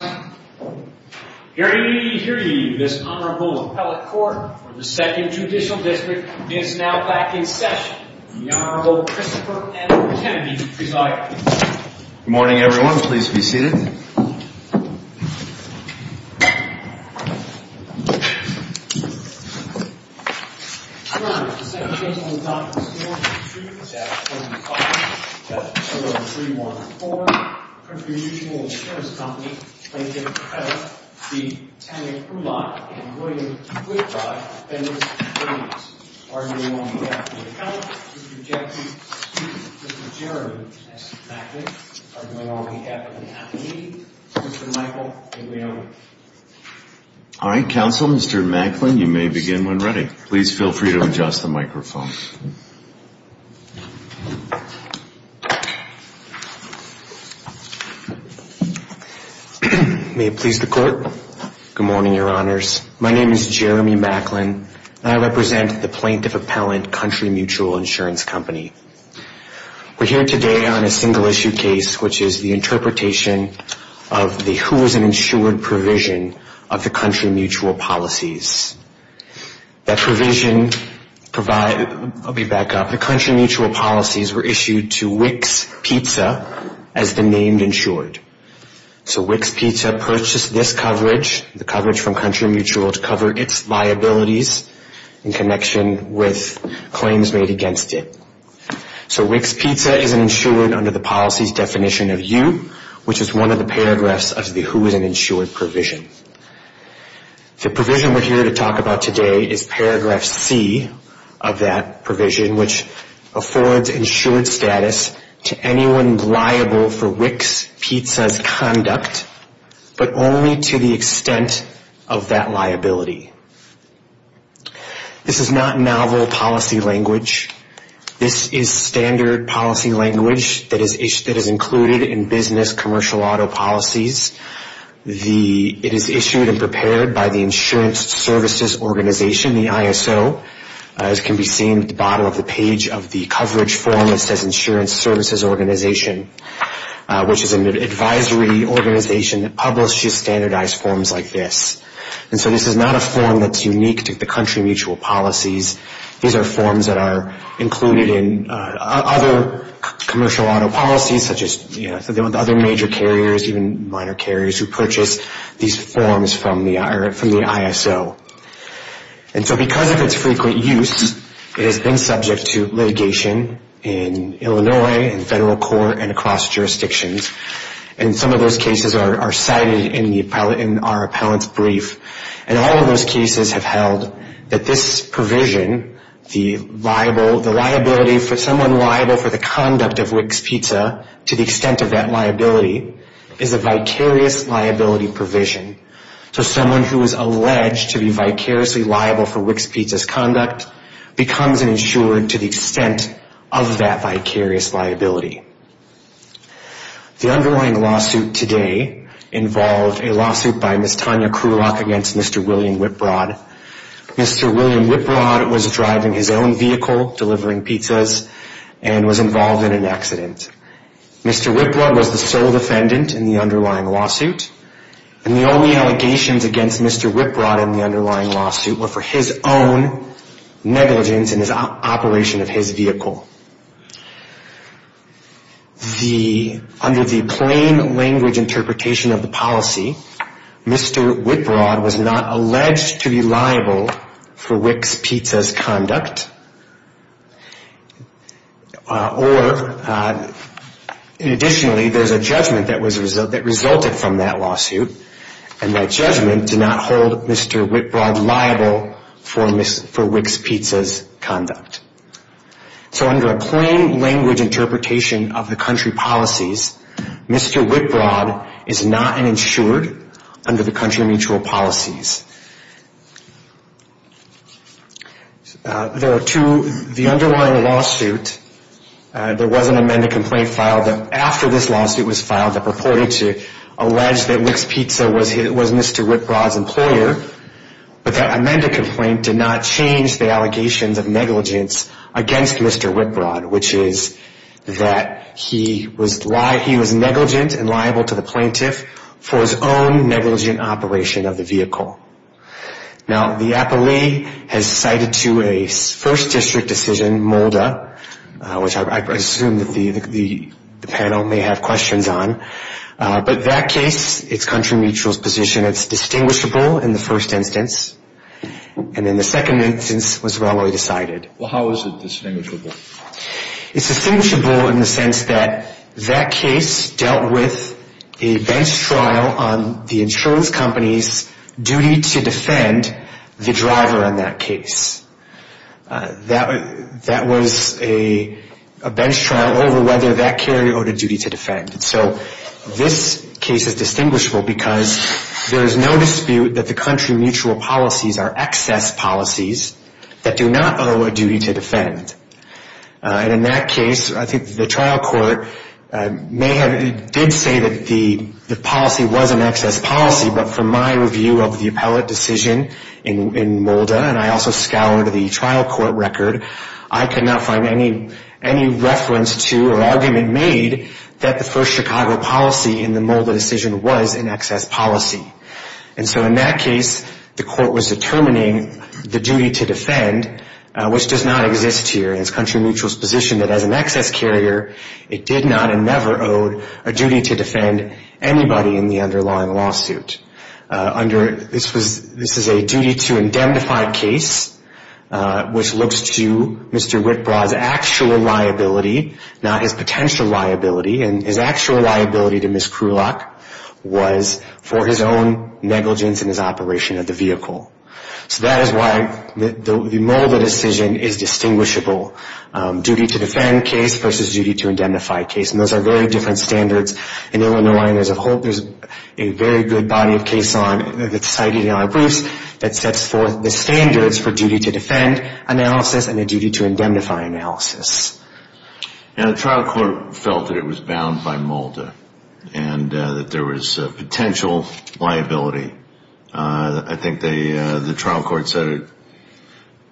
Hear ye, hear ye, this Honorable Appellate Court for the 2nd Judicial District is now back in session. The Honorable Christopher Edward Kennedy presiding. Good morning everyone, please be seated. Good morning, the 2nd Judicial Indoctrination Court is now in session. The Honorable 314, the Country Mutual Insurance Company plaintiff Appellate v. Tanya Kreulach and William Whitrod, defendants and plaintiffs. Arguing on behalf of the Counsel, Mr. Jackson, Mr. Jeremy, and Mr. Macklin. Arguing on behalf of the Appellate Committee, Mr. Michael and William. All right, Counsel, Mr. Macklin, you may begin when ready. Please feel free to adjust the microphone. May it please the Court. Good morning, Your Honors. My name is Jeremy Macklin and I represent the Plaintiff Appellate Country Mutual Insurance Company. We're here today on a single issue case which is the interpretation of the who is an insured provision of the Country Mutual Policies. That provision provides, I'll be back up, the Country Mutual Policies were issued to Wicks Pizza as the named insured. So Wicks Pizza purchased this coverage, the coverage from Country Mutual, to cover its liabilities in connection with claims made against it. So Wicks Pizza is an insured under the policies definition of you, which is one of the paragraphs of the who is an insured provision. The provision we're here to talk about today is paragraph C of that provision, which affords insured status to anyone liable for Wicks Pizza's conduct, but only to the extent of that liability. This is not novel policy language. This is standard policy language that is included in business commercial auto policies. It is issued and prepared by the Insurance Services Organization, the ISO, as can be seen at the bottom of the page of the coverage form that says Insurance Services Organization, which is an advisory organization that publishes standardized forms like this. And so this is not a form that's unique to the Country Mutual Policies. These are forms that are included in other commercial auto policies, such as other major carriers, even minor carriers who purchase these forms from the ISO. And so because of its frequent use, it has been subject to litigation in Illinois, in federal court, and across jurisdictions. And some of those cases are cited in our appellant's brief. And all of those cases have held that this provision, the liability for someone liable for the conduct of Wicks Pizza to the extent of that liability, is a vicarious liability provision. So someone who is alleged to be vicariously liable for Wicks Pizza's conduct becomes an insured to the extent of that vicarious liability. The underlying lawsuit today involved a lawsuit by Ms. Tanya Krulock against Mr. William Whiprod. Mr. William Whiprod was driving his own vehicle, delivering pizzas, and was involved in an accident. Mr. Whiprod was the sole defendant in the underlying lawsuit. And the only allegations against Mr. Whiprod in the underlying lawsuit were for his own negligence in the operation of his vehicle. Under the plain language interpretation of the policy, Mr. Whiprod was not alleged to be liable for Wicks Pizza's conduct. Or, additionally, there's a judgment that resulted from that lawsuit. And that judgment did not hold Mr. Whiprod liable for Wicks Pizza's conduct. So under a plain language interpretation of the country policies, Mr. Whiprod is not an insured under the country mutual policies. The underlying lawsuit, there was an amended complaint filed after this lawsuit was filed that purported to allege that Wicks Pizza was Mr. Whiprod's employer. But that amended complaint did not change the allegations of negligence against Mr. Whiprod, which is that he was negligent and liable to the plaintiff for his own negligent operation of the vehicle. Now, the Appellee has cited to a First District decision, MOLDA, which I assume that the panel may have questions on. But that case, it's country mutual's position, it's distinguishable in the first instance. And in the second instance, it was wrongly decided. Well, how is it distinguishable? It's distinguishable in the sense that that case dealt with a bench trial on the insurance company's duty to defend the driver in that case. That was a bench trial over whether that carrier owed a duty to defend. So this case is distinguishable because there is no dispute that the country mutual policies are excess policies that do not owe a duty to defend. And in that case, I think the trial court may have, did say that the policy was an excess policy, but from my review of the appellate decision in MOLDA, and I also scoured the trial court record, I could not find any reference to or argument made that the first Chicago policy in the MOLDA decision was an excess policy. And so in that case, the court was determining the duty to defend, which does not exist here. It's country mutual's position that as an excess carrier, it did not and never owed a duty to defend anybody in the underlying lawsuit. This is a duty to indemnify case, which looks to Mr. Whitbraw's actual liability, not his potential liability. And his actual liability to Ms. Krulock was for his own negligence in his operation of the vehicle. So that is why the MOLDA decision is distinguishable, duty to defend case versus duty to indemnify case. And those are very different standards. In Illinois, there's a whole, there's a very good body of case on, that's cited in our proofs, that sets forth the standards for duty to defend analysis and a duty to indemnify analysis. And the trial court felt that it was bound by MOLDA and that there was potential liability. I think the trial court said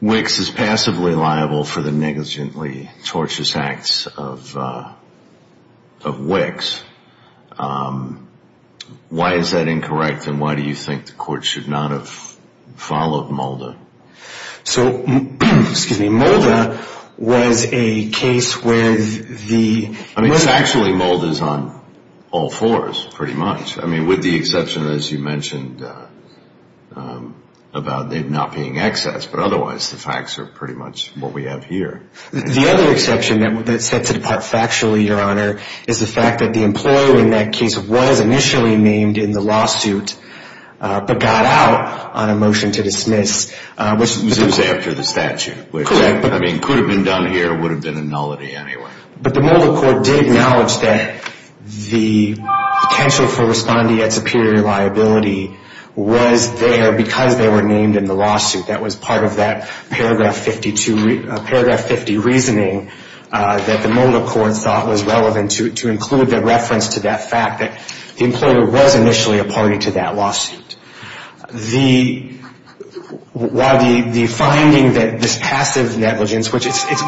WICS is passively liable for the negligently torturous acts of WICS. Why is that incorrect and why do you think the court should not have followed MOLDA? So, excuse me, MOLDA was a case where the... I mean, it's actually MOLDA's on all fours pretty much. I mean, with the exception, as you mentioned, about it not being excess, but otherwise the facts are pretty much what we have here. The other exception that sets it apart factually, Your Honor, is the fact that the employer in that case was initially named in the lawsuit, but got out on a motion to dismiss. Which was after the statute. Correct. Which, I mean, could have been done here, would have been a nullity anyway. But the MOLDA court did acknowledge that the potential for responding at superior liability was there because they were named in the lawsuit. That was part of that paragraph 52, paragraph 50 reasoning that the MOLDA court thought was relevant to include the reference to that fact that the employer was initially a party to that lawsuit. The finding that this passive negligence, which it's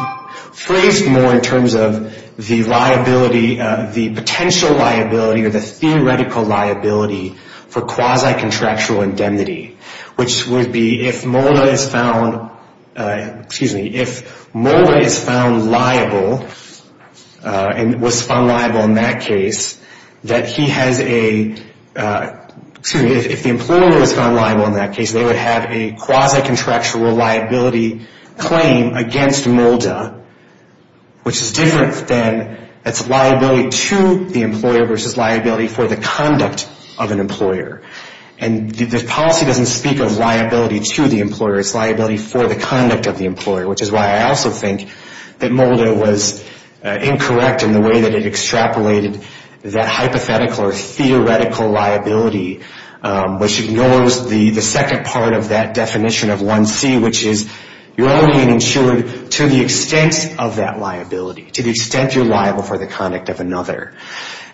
phrased more in terms of the liability, the potential liability or the theoretical liability for quasi-contractual indemnity, which would be if MOLDA is found, excuse me, if MOLDA is found liable and was found liable in that case, that he has a, excuse me, if the employer was found liable in that case, they would have a quasi-contractual liability claim against MOLDA, which is different than it's liability to the employer versus liability for the conduct of an employer. And the policy doesn't speak of liability to the employer. It's liability for the conduct of the employer, which is why I also think that MOLDA was incorrect in the way that it extrapolated that hypothetical or theoretical liability, which ignores the second part of that definition of 1C, which is you're only insured to the extent of that liability, to the extent you're liable for the conduct of another.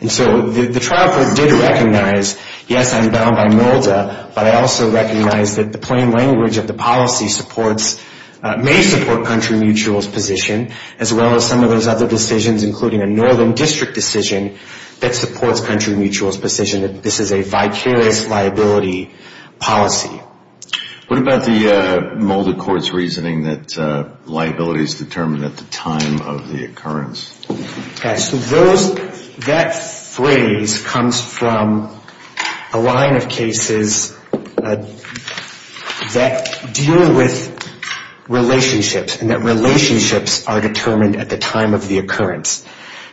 And so the trial court did recognize, yes, I'm bound by MOLDA, but I also recognize that the plain language of the policy supports, may support country mutual's position, as well as some of those other decisions, including a northern district decision that supports country mutual's position that this is a vicarious liability policy. What about the MOLDA court's reasoning that liability is determined at the time of the occurrence? Okay, so those, that phrase comes from a line of cases that deal with relationships, and that relationships are determined at the time of the occurrence.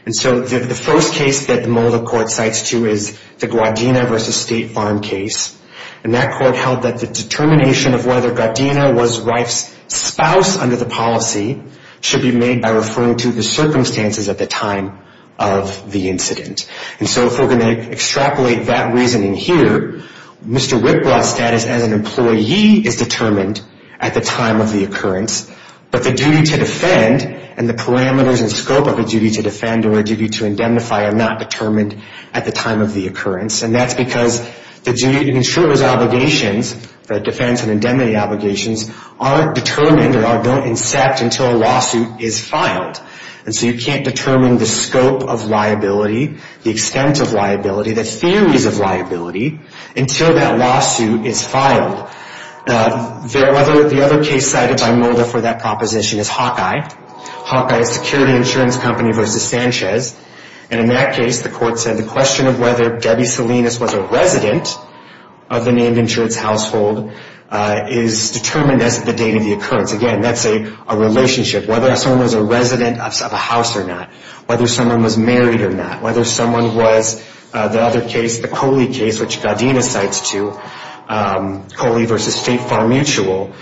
And so the first case that the MOLDA court cites, too, is the Guardina versus State Farm case. And that court held that the determination of whether Guardina was wife's spouse under the policy should be made by referring to the circumstances at the time of the incident. And so if we're going to extrapolate that reasoning here, Mr. Whitblatt's status as an employee is determined at the time of the occurrence, but the duty to defend and the parameters and scope of a duty to defend or a duty to indemnify are not determined at the time of the occurrence. And that's because the duty to ensure his obligations, the defense and indemnity obligations, aren't determined or don't incept until a lawsuit is filed. And so you can't determine the scope of liability, the extent of liability, the theories of liability, until that lawsuit is filed. The other case cited by MOLDA for that proposition is Hawkeye. Hawkeye Security Insurance Company versus Sanchez. And in that case, the court said the question of whether Debbie Salinas was a resident of the named insurance household is determined as the date of the occurrence. Again, that's a relationship. Whether someone was a resident of a house or not, whether someone was married or not, whether someone was the other case, the Coley case, which Gaudina cites to Coley versus State Farm Mutual,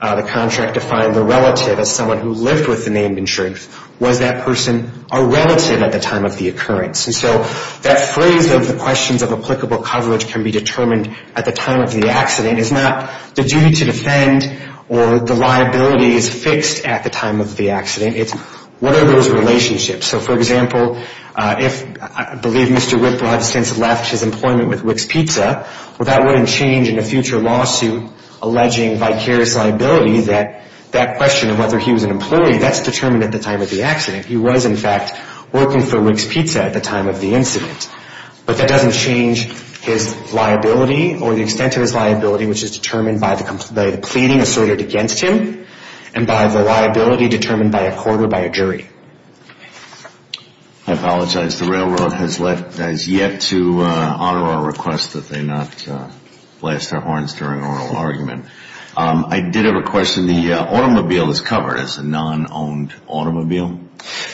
the contract defined the relative as someone who lived with the named insurance. Was that person a relative at the time of the occurrence? And so that phrase of the questions of applicable coverage can be determined at the time of the accident is not the duty to defend or the liability is fixed at the time of the accident. It's what are those relationships? So, for example, if I believe Mr. Whitbrod has since left his employment with Rick's Pizza, well, that wouldn't change in a future lawsuit alleging vicarious liability that that question of whether he was an employee, that's determined at the time of the accident. He was, in fact, working for Rick's Pizza at the time of the incident. But that doesn't change his liability or the extent of his liability, which is determined by the pleading asserted against him and by the liability determined by a court or by a jury. I apologize. The railroad has yet to honor our request that they not blast their horns during oral argument. I did have a question. The automobile is covered as a non-owned automobile?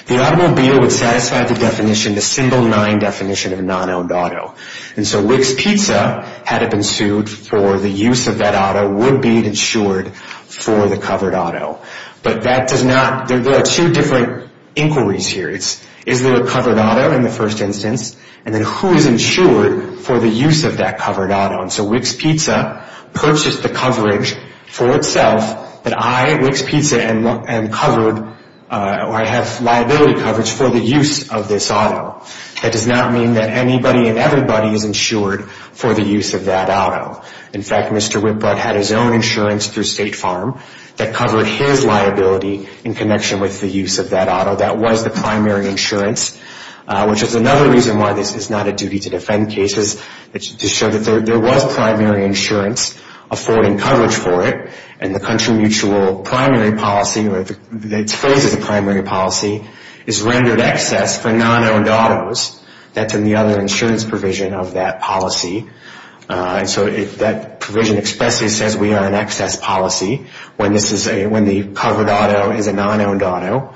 The automobile would satisfy the definition, the symbol nine definition of non-owned auto. And so Rick's Pizza, had it been sued for the use of that auto, would be insured for the covered auto. But that does not, there are two different inquiries here. Is there a covered auto in the first instance? And then who is insured for the use of that covered auto? And so Rick's Pizza purchased the coverage for itself that I, Rick's Pizza, am covered, or I have liability coverage for the use of this auto. That does not mean that anybody and everybody is insured for the use of that auto. In fact, Mr. Whitbrod had his own insurance through State Farm that covered his liability in connection with the use of that auto. That was the primary insurance, which is another reason why this is not a duty to defend cases, to show that there was primary insurance affording coverage for it. And the country mutual primary policy, or its phrase is a primary policy, is rendered excess for non-owned autos. That's in the other insurance provision of that policy. And so that provision expressly says we are an excess policy when the covered auto is a non-owned auto.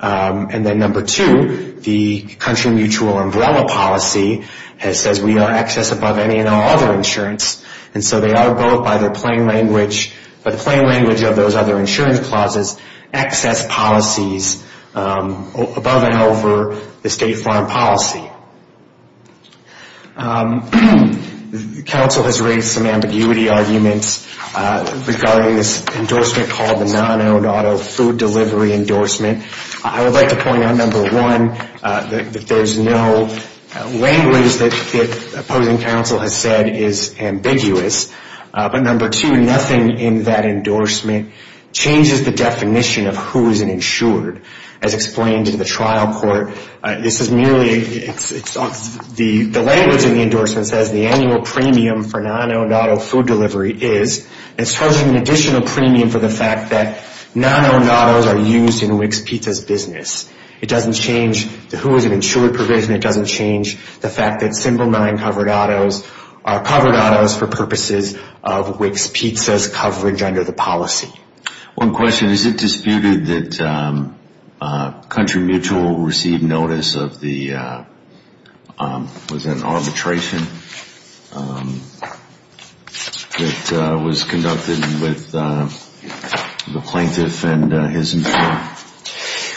And then number two, the country mutual umbrella policy says we are excess above any and all other insurance. And so they are both, by the plain language, by the plain language of those other insurance clauses, excess policies above and over the State Farm policy. The Council has raised some ambiguity arguments regarding this endorsement called the non-owned auto food delivery endorsement. I would like to point out, number one, that there's no language that the opposing Council has said is ambiguous. But number two, nothing in that endorsement changes the definition of who is an insured, as explained in the trial court. This is merely, the language in the endorsement says the annual premium for non-owned auto food delivery is charging an additional premium for the fact that non-owned autos are used in WIC's pizza business. It doesn't change who is an insured provision. It doesn't change the fact that simple non-covered autos are covered autos for purposes of WIC's pizza's coverage under the policy. One question. Is it disputed that country mutual received notice of the was it an arbitration that was conducted with the plaintiff and his employer?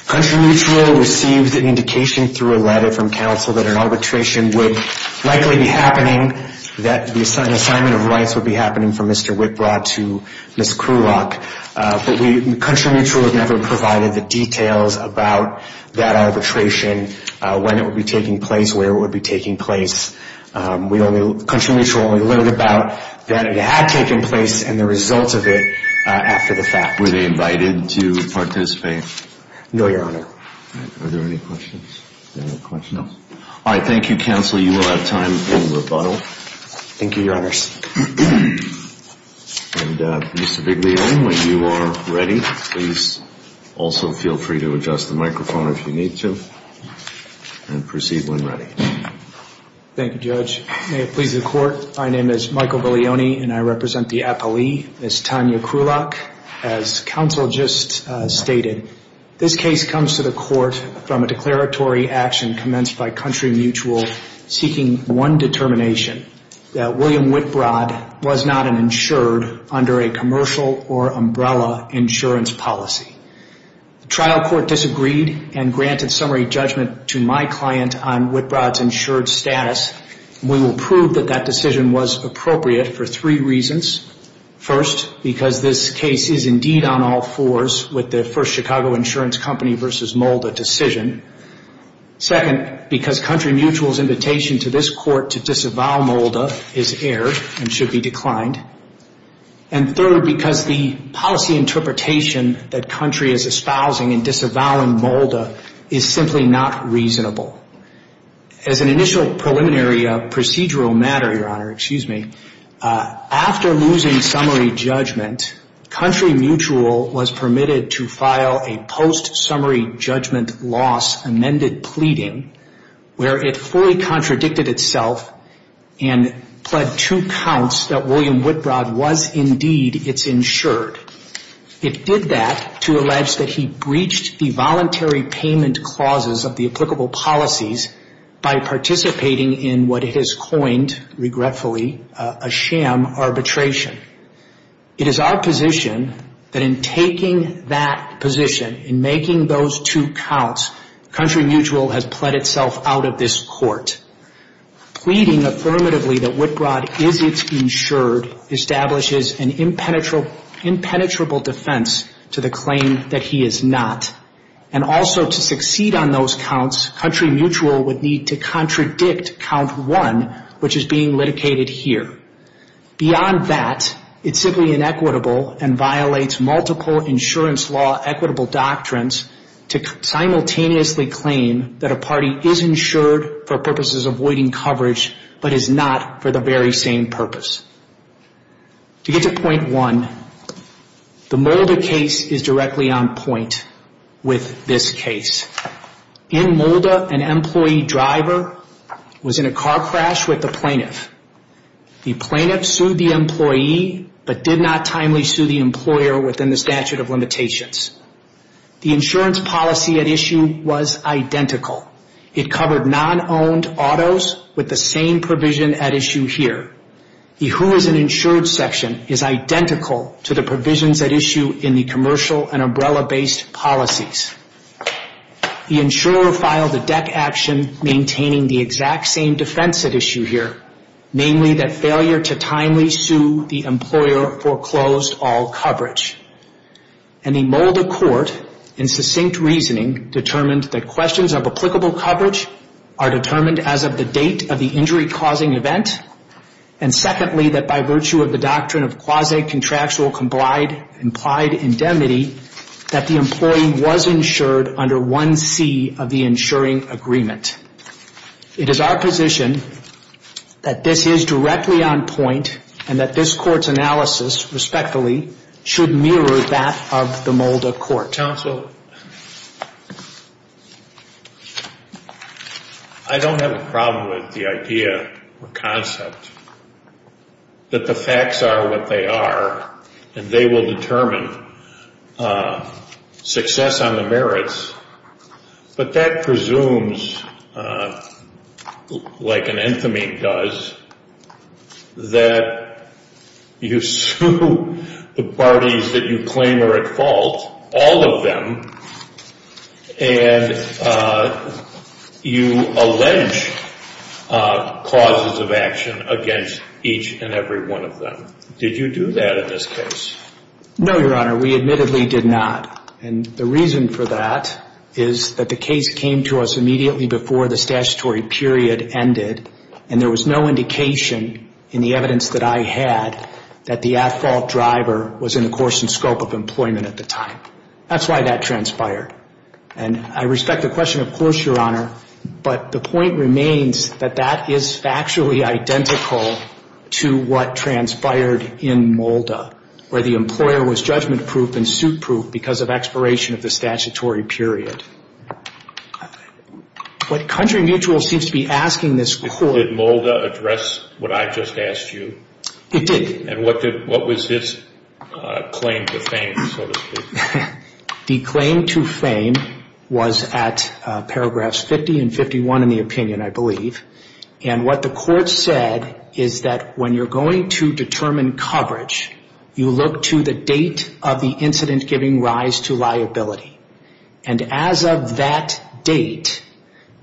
Country mutual received an indication through a letter from Council that an arbitration would likely be happening, that an assignment of rights would be happening from Mr. Whitbrod to Ms. Krulock. But country mutual has never provided the details about that arbitration, when it would be taking place, where it would be taking place, country mutual only learned about that it had taken place and the results of it after the fact. Were they invited to participate? No, Your Honor. Are there any questions? No. All right, thank you, Counsel. You will have time for rebuttal. Thank you, Your Honors. And Mr. Bigley-Owen, when you are ready, please also feel free to adjust the microphone if you need to, and proceed when ready. Thank you, Judge. May it please the Court, my name is Michael Bigley-Owen and I represent the appellee, Ms. Tanya Krulock. As Counsel just stated, this case comes to the Court from a declaratory action commenced by country mutual seeking one determination, that William Whitbrod was not an insured under a commercial or umbrella insurance policy. The trial court disagreed and granted summary judgment to my client about his insured status. We will prove that that decision was appropriate for three reasons. First, because this case is indeed on all fours with the first Chicago Insurance Company versus Molda decision. Second, because country mutual's invitation to this Court to disavow Molda is aired and should be declined. And third, because the policy interpretation that country is espousing in disavowing Molda is simply not reasonable. As an initial preliminary procedural matter, Your Honor, excuse me, after losing summary judgment, country mutual was permitted to file a post-summary judgment loss amended pleading where it fully contradicted itself and pled two counts that William Whitbrod was indeed its insured. It did that to allege that he breached the voluntary payment clauses of the applicable policies while participating in what it has coined, regretfully, a sham arbitration. It is our position that in taking that position, in making those two counts, country mutual has pled itself out of this Court. Pleading affirmatively that Whitbrod is its insured establishes an impenetrable defense to the claim that he is not. And also to succeed on those counts, country mutual would need to contradict count one, which is being litigated here. Beyond that, it's simply inequitable and violates multiple insurance law equitable doctrines to simultaneously claim that a party is insured for purposes avoiding coverage but is not for the very same purpose. To get to point one, the Molda case is directly on point with this case. In Molda, an employee driver was in a car crash with the plaintiff. The plaintiff sued the employee but did not timely sue the employer within the statute of limitations. The insurance policy at issue was identical. It covered non-owned autos with the same provision at issue here. The who is an insured section is identical to the provisions at issue in the commercial and umbrella-based policies. The insurer filed a deck action maintaining the exact same defense at issue here, namely that failure to timely sue the employer foreclosed all coverage. And the Molda court, in succinct reasoning, determined that questions of applicable coverage are determined as of the date of the injury-causing event, and secondly, that by virtue of the doctrine of quasi-contractual implied indemnity, that the employee was insured under 1C of the insuring agreement. It is our position that this is directly on point and that this court's analysis, respectfully, should mirror that of the Molda court. Counsel, I don't have a problem with the idea or concept that the facts are what they are and they will determine success on the merits, but that presumes, like an enthemy does, that you sue the parties that you claim are at fault, all of them, and you allege causes of action against each and every one of them. Did you do that in this case? No, Your Honor. We admittedly did not, and the reason for that is that the case came to us immediately before the statutory period ended, and there was no indication in the evidence that I had that the at-fault driver was in the course and scope of employment at the time. That's why that transpired, and I respect the question, of course, Your Honor, but the point remains that that is factually identical and that the employer was judgment-proof and suit-proof because of expiration of the statutory period. What Country Mutual seems to be asking this court... Did Molda address what I just asked you? It did. And what was his claim to fame, so to speak? The claim to fame was at paragraphs 50 and 51 in the opinion, I believe, and what the court said to the date of the incident giving rise to liability. And as of that date,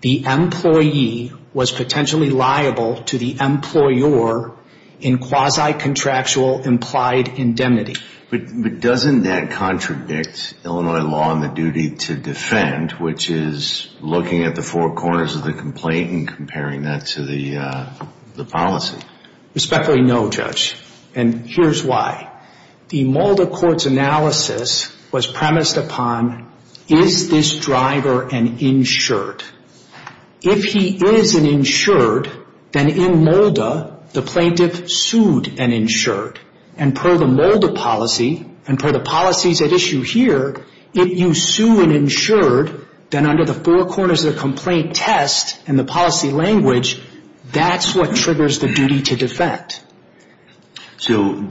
the employee was potentially liable to the employer in quasi-contractual implied indemnity. But doesn't that contradict Illinois law and the duty to defend, which is looking at the four corners of the complaint and comparing that to the policy? Respectfully, no, Judge, and here's why. The Molda court's analysis was premised upon is this driver an insured? If he is an insured, then in Molda, the plaintiff sued an insured. And per the Molda policy and per the policies at issue here, if you sue an insured, then under the four corners of the complaint test and the policy language, that's what triggers the duty to defend. The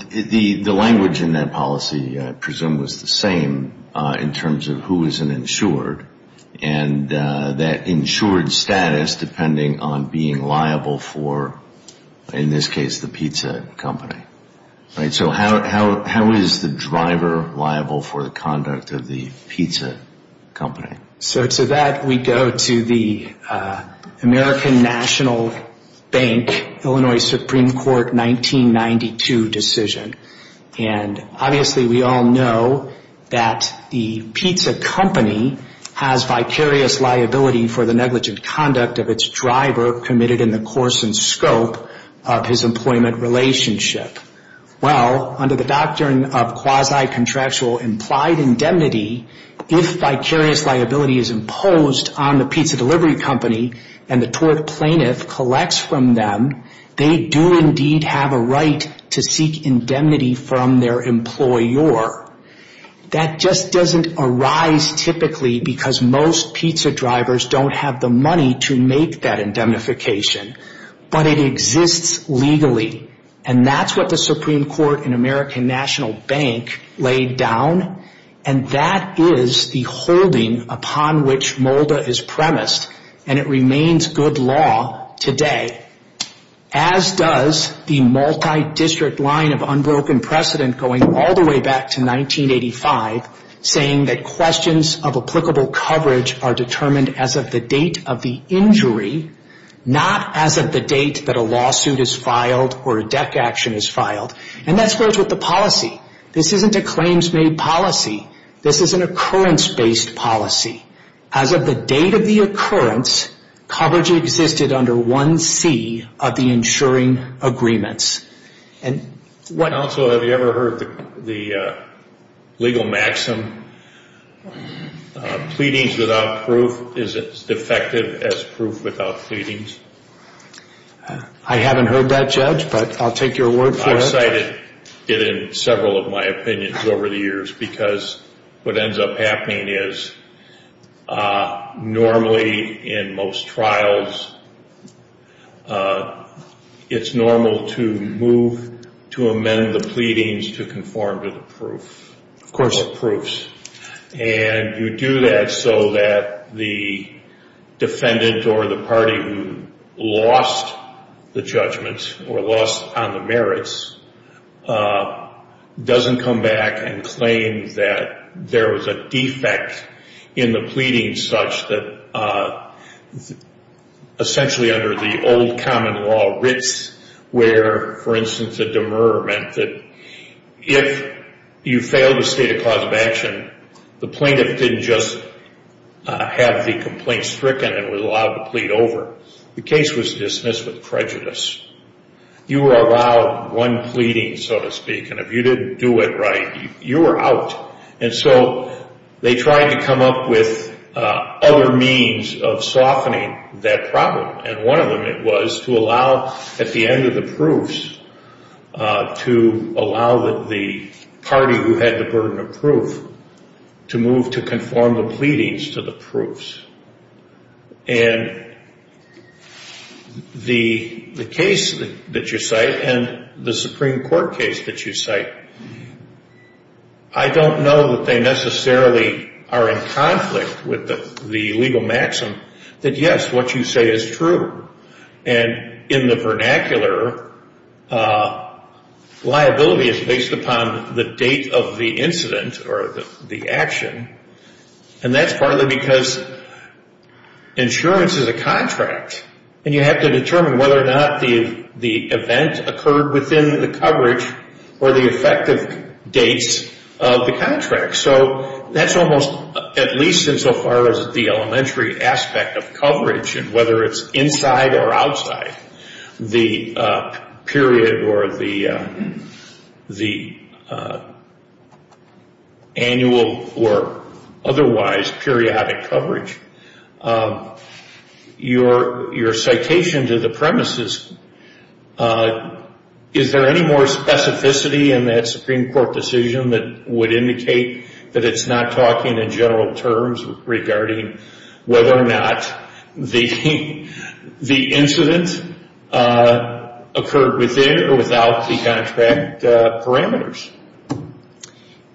Molda policy, I presume, was the same in terms of who is an insured and that insured status depending on being liable for, in this case, the pizza company. So how is the driver liable for the conduct of the pizza company? So to that, we go to the American National Bank Illinois Supreme Court 1992 decision. Obviously, we all know that the pizza company has vicarious liability for the negligent conduct of its driver committed in the course and scope of his employment relationship. Well, under the doctrine of quasi-contractual implied indemnity, if vicarious liability is imposed on the pizza delivery company and the tort plaintiff collects from them, they do indeed have a right to seek indemnity from their employer. That just doesn't arise typically because most pizza drivers don't have the money to make that indemnification. But it exists legally and that's what the Supreme Court and American National Bank laid down and that is the holding upon which Molda is premised and it remains good law today. As does the district line of unbroken precedent going all the way back to 1985 saying that questions of applicable coverage are determined as of the date of the injury, not as of the date that a lawsuit is filed or a deck action is filed. And that's what the policy. This isn't a claims-made policy. This is an occurrence-based policy. As of the date of the occurrence, coverage existed under 1C of the insuring agreements. And what... Counsel, have you ever heard the legal maxim pleadings without proof is as defective as proof without pleadings? I haven't heard that, Judge, but I'll take your word for it. I've cited it in several of my opinions over the years because what ends up happening is normally in most trials it's normal to move to amend the pleadings to conform to the proof. Of course. Proofs. And you do that so that the defendant or the party who lost the judgments or lost on the merits doesn't come back and claim that there was a defect in the pleadings such that essentially under the old common law Ritz where for instance a demur meant that if you failed a state of cause of action the plaintiff didn't just have the complaint stricken and was allowed to plead over. The case was dismissed with prejudice. You were allowed one pleading so to speak and if you didn't do it right you were out. And so they tried to come up with other means of softening that problem. And one of them was to allow at the end of the proofs to allow the party who had the burden of proof to move to conform the pleadings to the proofs. And the case that you cite and the Supreme Court case that you cite I don't know that they necessarily are in conflict with the legal maxim that yes what you say is true. And in the vernacular liability is based upon the date of the incident or the action and that's partly because insurance is a contract and you have to determine whether or not the event occurred within the coverage or the effective dates of the contract. So that's almost at least insofar as the elementary aspect of coverage and whether it's inside or outside the period or the annual or otherwise periodic coverage. Your citation to the premises is there any more specificity in that Supreme Court decision that would indicate that it's not talking in general terms regarding whether or not the incident occurred within or without the contract parameters?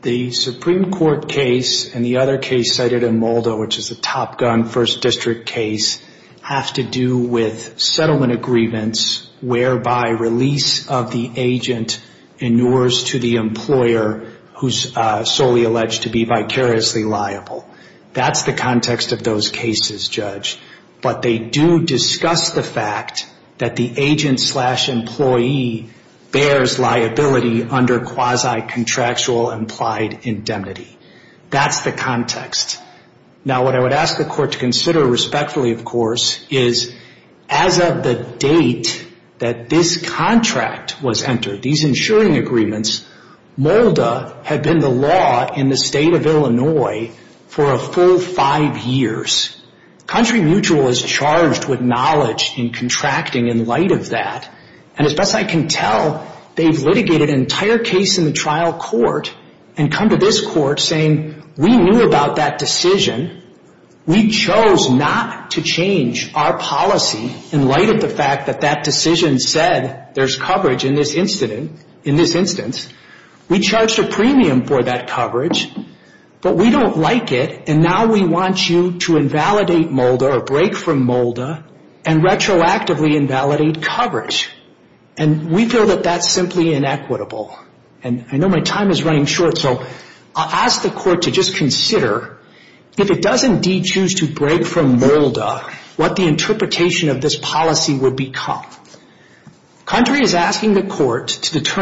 The Supreme Court case and the other case cited in Moldo which is the Top Gun First District case have to do with settlement agreements whereby release of the agent inures to the who's solely alleged to be vicariously liable. That's the context of those cases Judge. But they do discuss the fact that the agent slash employee bears liability under quasi contractual implied indemnity. That's the context. Now what I would ask the court to consider respectfully of course is as of the date that this contract was entered, these insuring agreements, Moldo had been the law in the state of Illinois for a full five years. Country Mutual is charged with knowledge in contracting in light of that. And as best I can tell they've litigated an entire case in the trial court and come to this court saying we knew about that decision. We chose not to change our policy in light of the fact that that decision said there's coverage in this instance. We charged a premium for that coverage but we don't like it and now we want you to invalidate Moldo or break from Moldo and retroactively invalidate coverage. And we feel that that's simply inequitable. And I know my time is running short so I'll ask the court to just consider if it does indeed choose to break from Moldo what the interpretation of this policy would become. Country is asking the court to do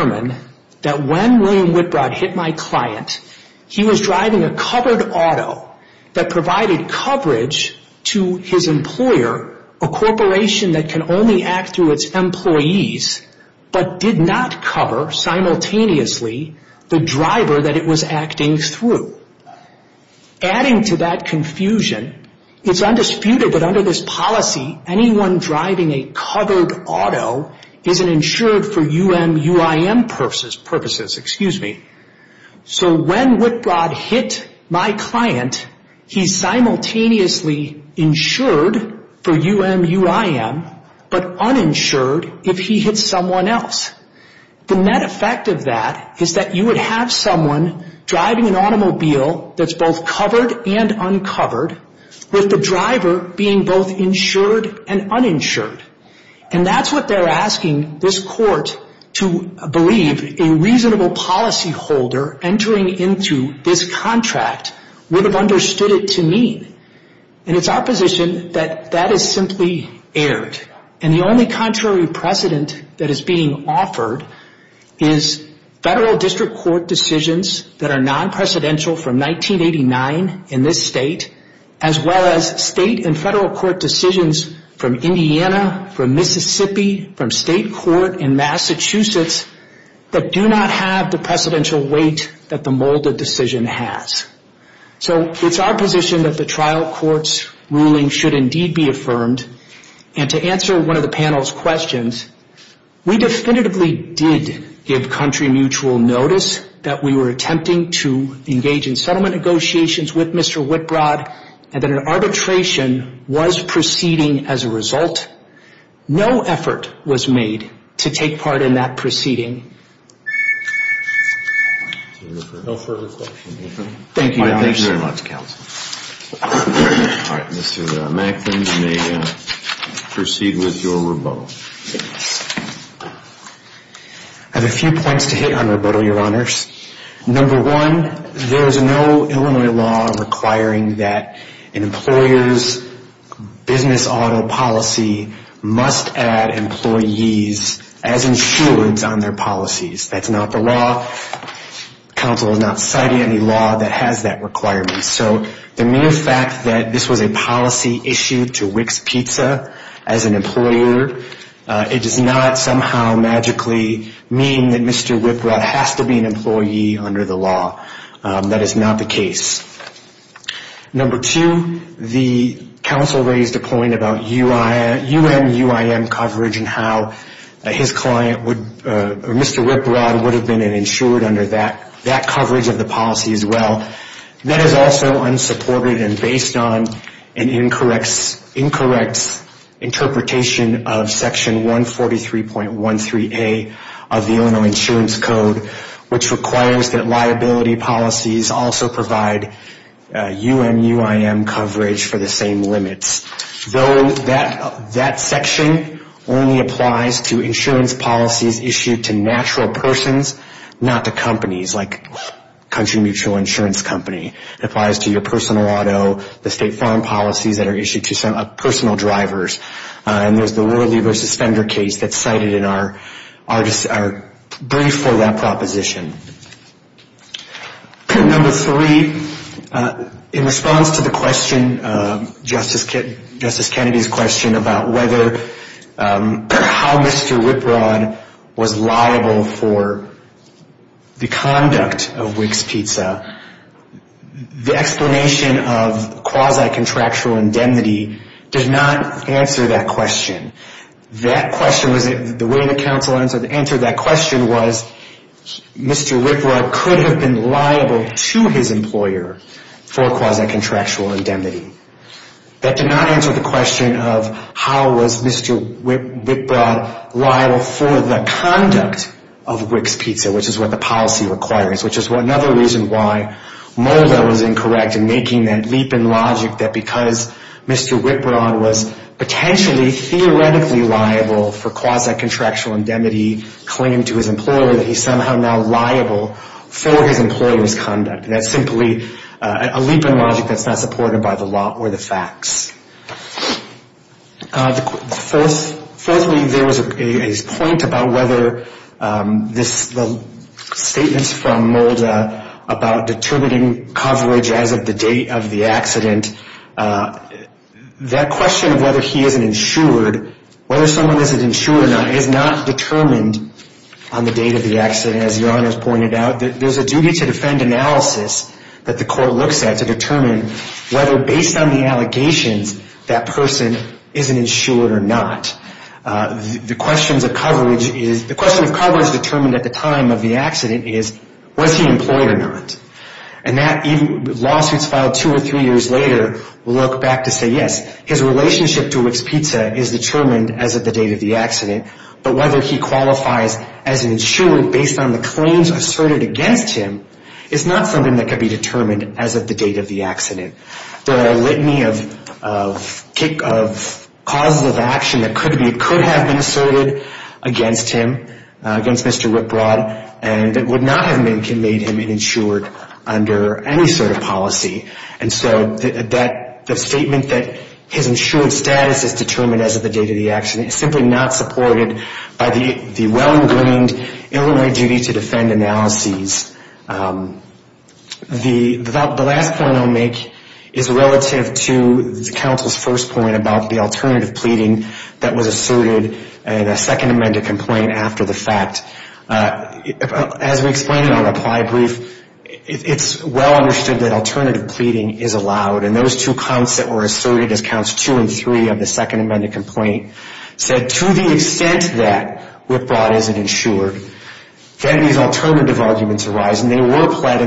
a auto that provided coverage to his employer a corporation that can only act through its employees but did not cover simultaneously the driver that it was acting through. Adding to that confusion it's undisputed that under this policy anyone driving a covered auto isn't insured for U.M. U.I.M. purposes. Excuse me. So when Whitbroad hit my client he simultaneously insured for U.M. U.I.M. but uninsured if he hit someone else. The net effect of that is that you would have someone driving an automobile that's both covered and uncovered with the driver being both insured and uninsured. And that's what they're saying. policy holder entering into this contract would have understood it to mean. And it's our position that that is simply aired. And the only contrary precedent that is being offered is federal district court decisions that are not have the precedential weight that the molded decision has. So it's our position that the trial court's should indeed be affirmed. And to answer one of the panel's questions, we definitively did give country mutual notice that we would like to that coverage of the policy as well. That is also unsupported and based on an incorrect interpretation of section 143.13a of the Illinois insurance code, which requires that liability policies also provide UMUIM coverage for the same limits. Though that section only applies to insurance policies issued to natural persons, not to companies like Country Mutual Insurance Company. It applies to your personal auto, the state foreign policies that are issued to some personal drivers. And there's the Worley v. Fender case that's cited in our brief for that proposition. Number three, in response to the committee's question about whether, how Mr. Wiprod was liable for the conduct of WIC's pizza, the explanation of quasi-contractual indemnity did not answer that question. That question was, the way the council answered that question was Mr. Wiprod could have been liable to his employer for quasi- contractual indemnity. That did not answer the question of how was Mr. Wiprod liable for the conduct of WIC's pizza, which is what the policy requires, which is another reason why Mulder was incorrect in making that leap in logic that because Mr. Wiprod was potentially, theoretically liable for quasi-contractual indemnity claim to his employer, that he's somehow now liable for his employer's conduct. That's simply a leap in logic that's not supported by the law or the facts. Fourthly, there was a point about the statements from Mulder about determining coverage as of the date of the accident, that question of whether he isn't insured, whether someone isn't insured is not determined on the date of the accident. And as your honors pointed out, there's a duty to defend analysis that the court looks at to determine whether based on the allegations, that person isn't insured or not. The question of coverage determined at the time of the accident is, was he employed or not? And lawsuits filed two or three years later look back to say, yes, his relationship to Wicks Pizza is determined as of the date of the accident, but whether he qualifies as insured based on the claims asserted against him is not something that could be as of the date of the There are a litany of causes of action that could have been asserted against him, against Mr. Rick Broad, and that would not have made him insured under any sort of policy. And so the statement that his insured status is determined as of the date of the accident is simply not supported by the well-ingrained ill-informed duty to defend analysis. The last point I'll make is relative to the fact as we explained in our reply brief, it's well understood that alternative pleading is allowed, and those two counts that were asserted as counts two and three of the Second Amendment complaint said to the extent that Rick Broad isn't insured, Kennedy's alternative arguments arise, and asked that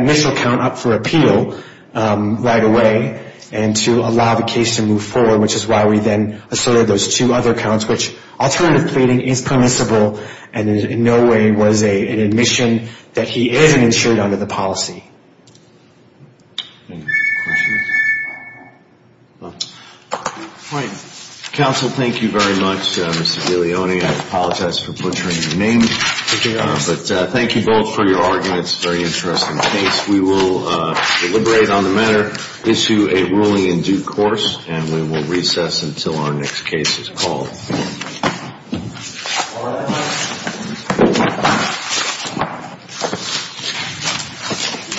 initial count up for appeal right away and to allow the case to move forward, which is why we then asserted those two other counts, which alternative pleading is permissible and in no way was an admission that he isn't insured under the Second So will deliberate on the matter, issue a ruling in due course, and we will recess until our next case is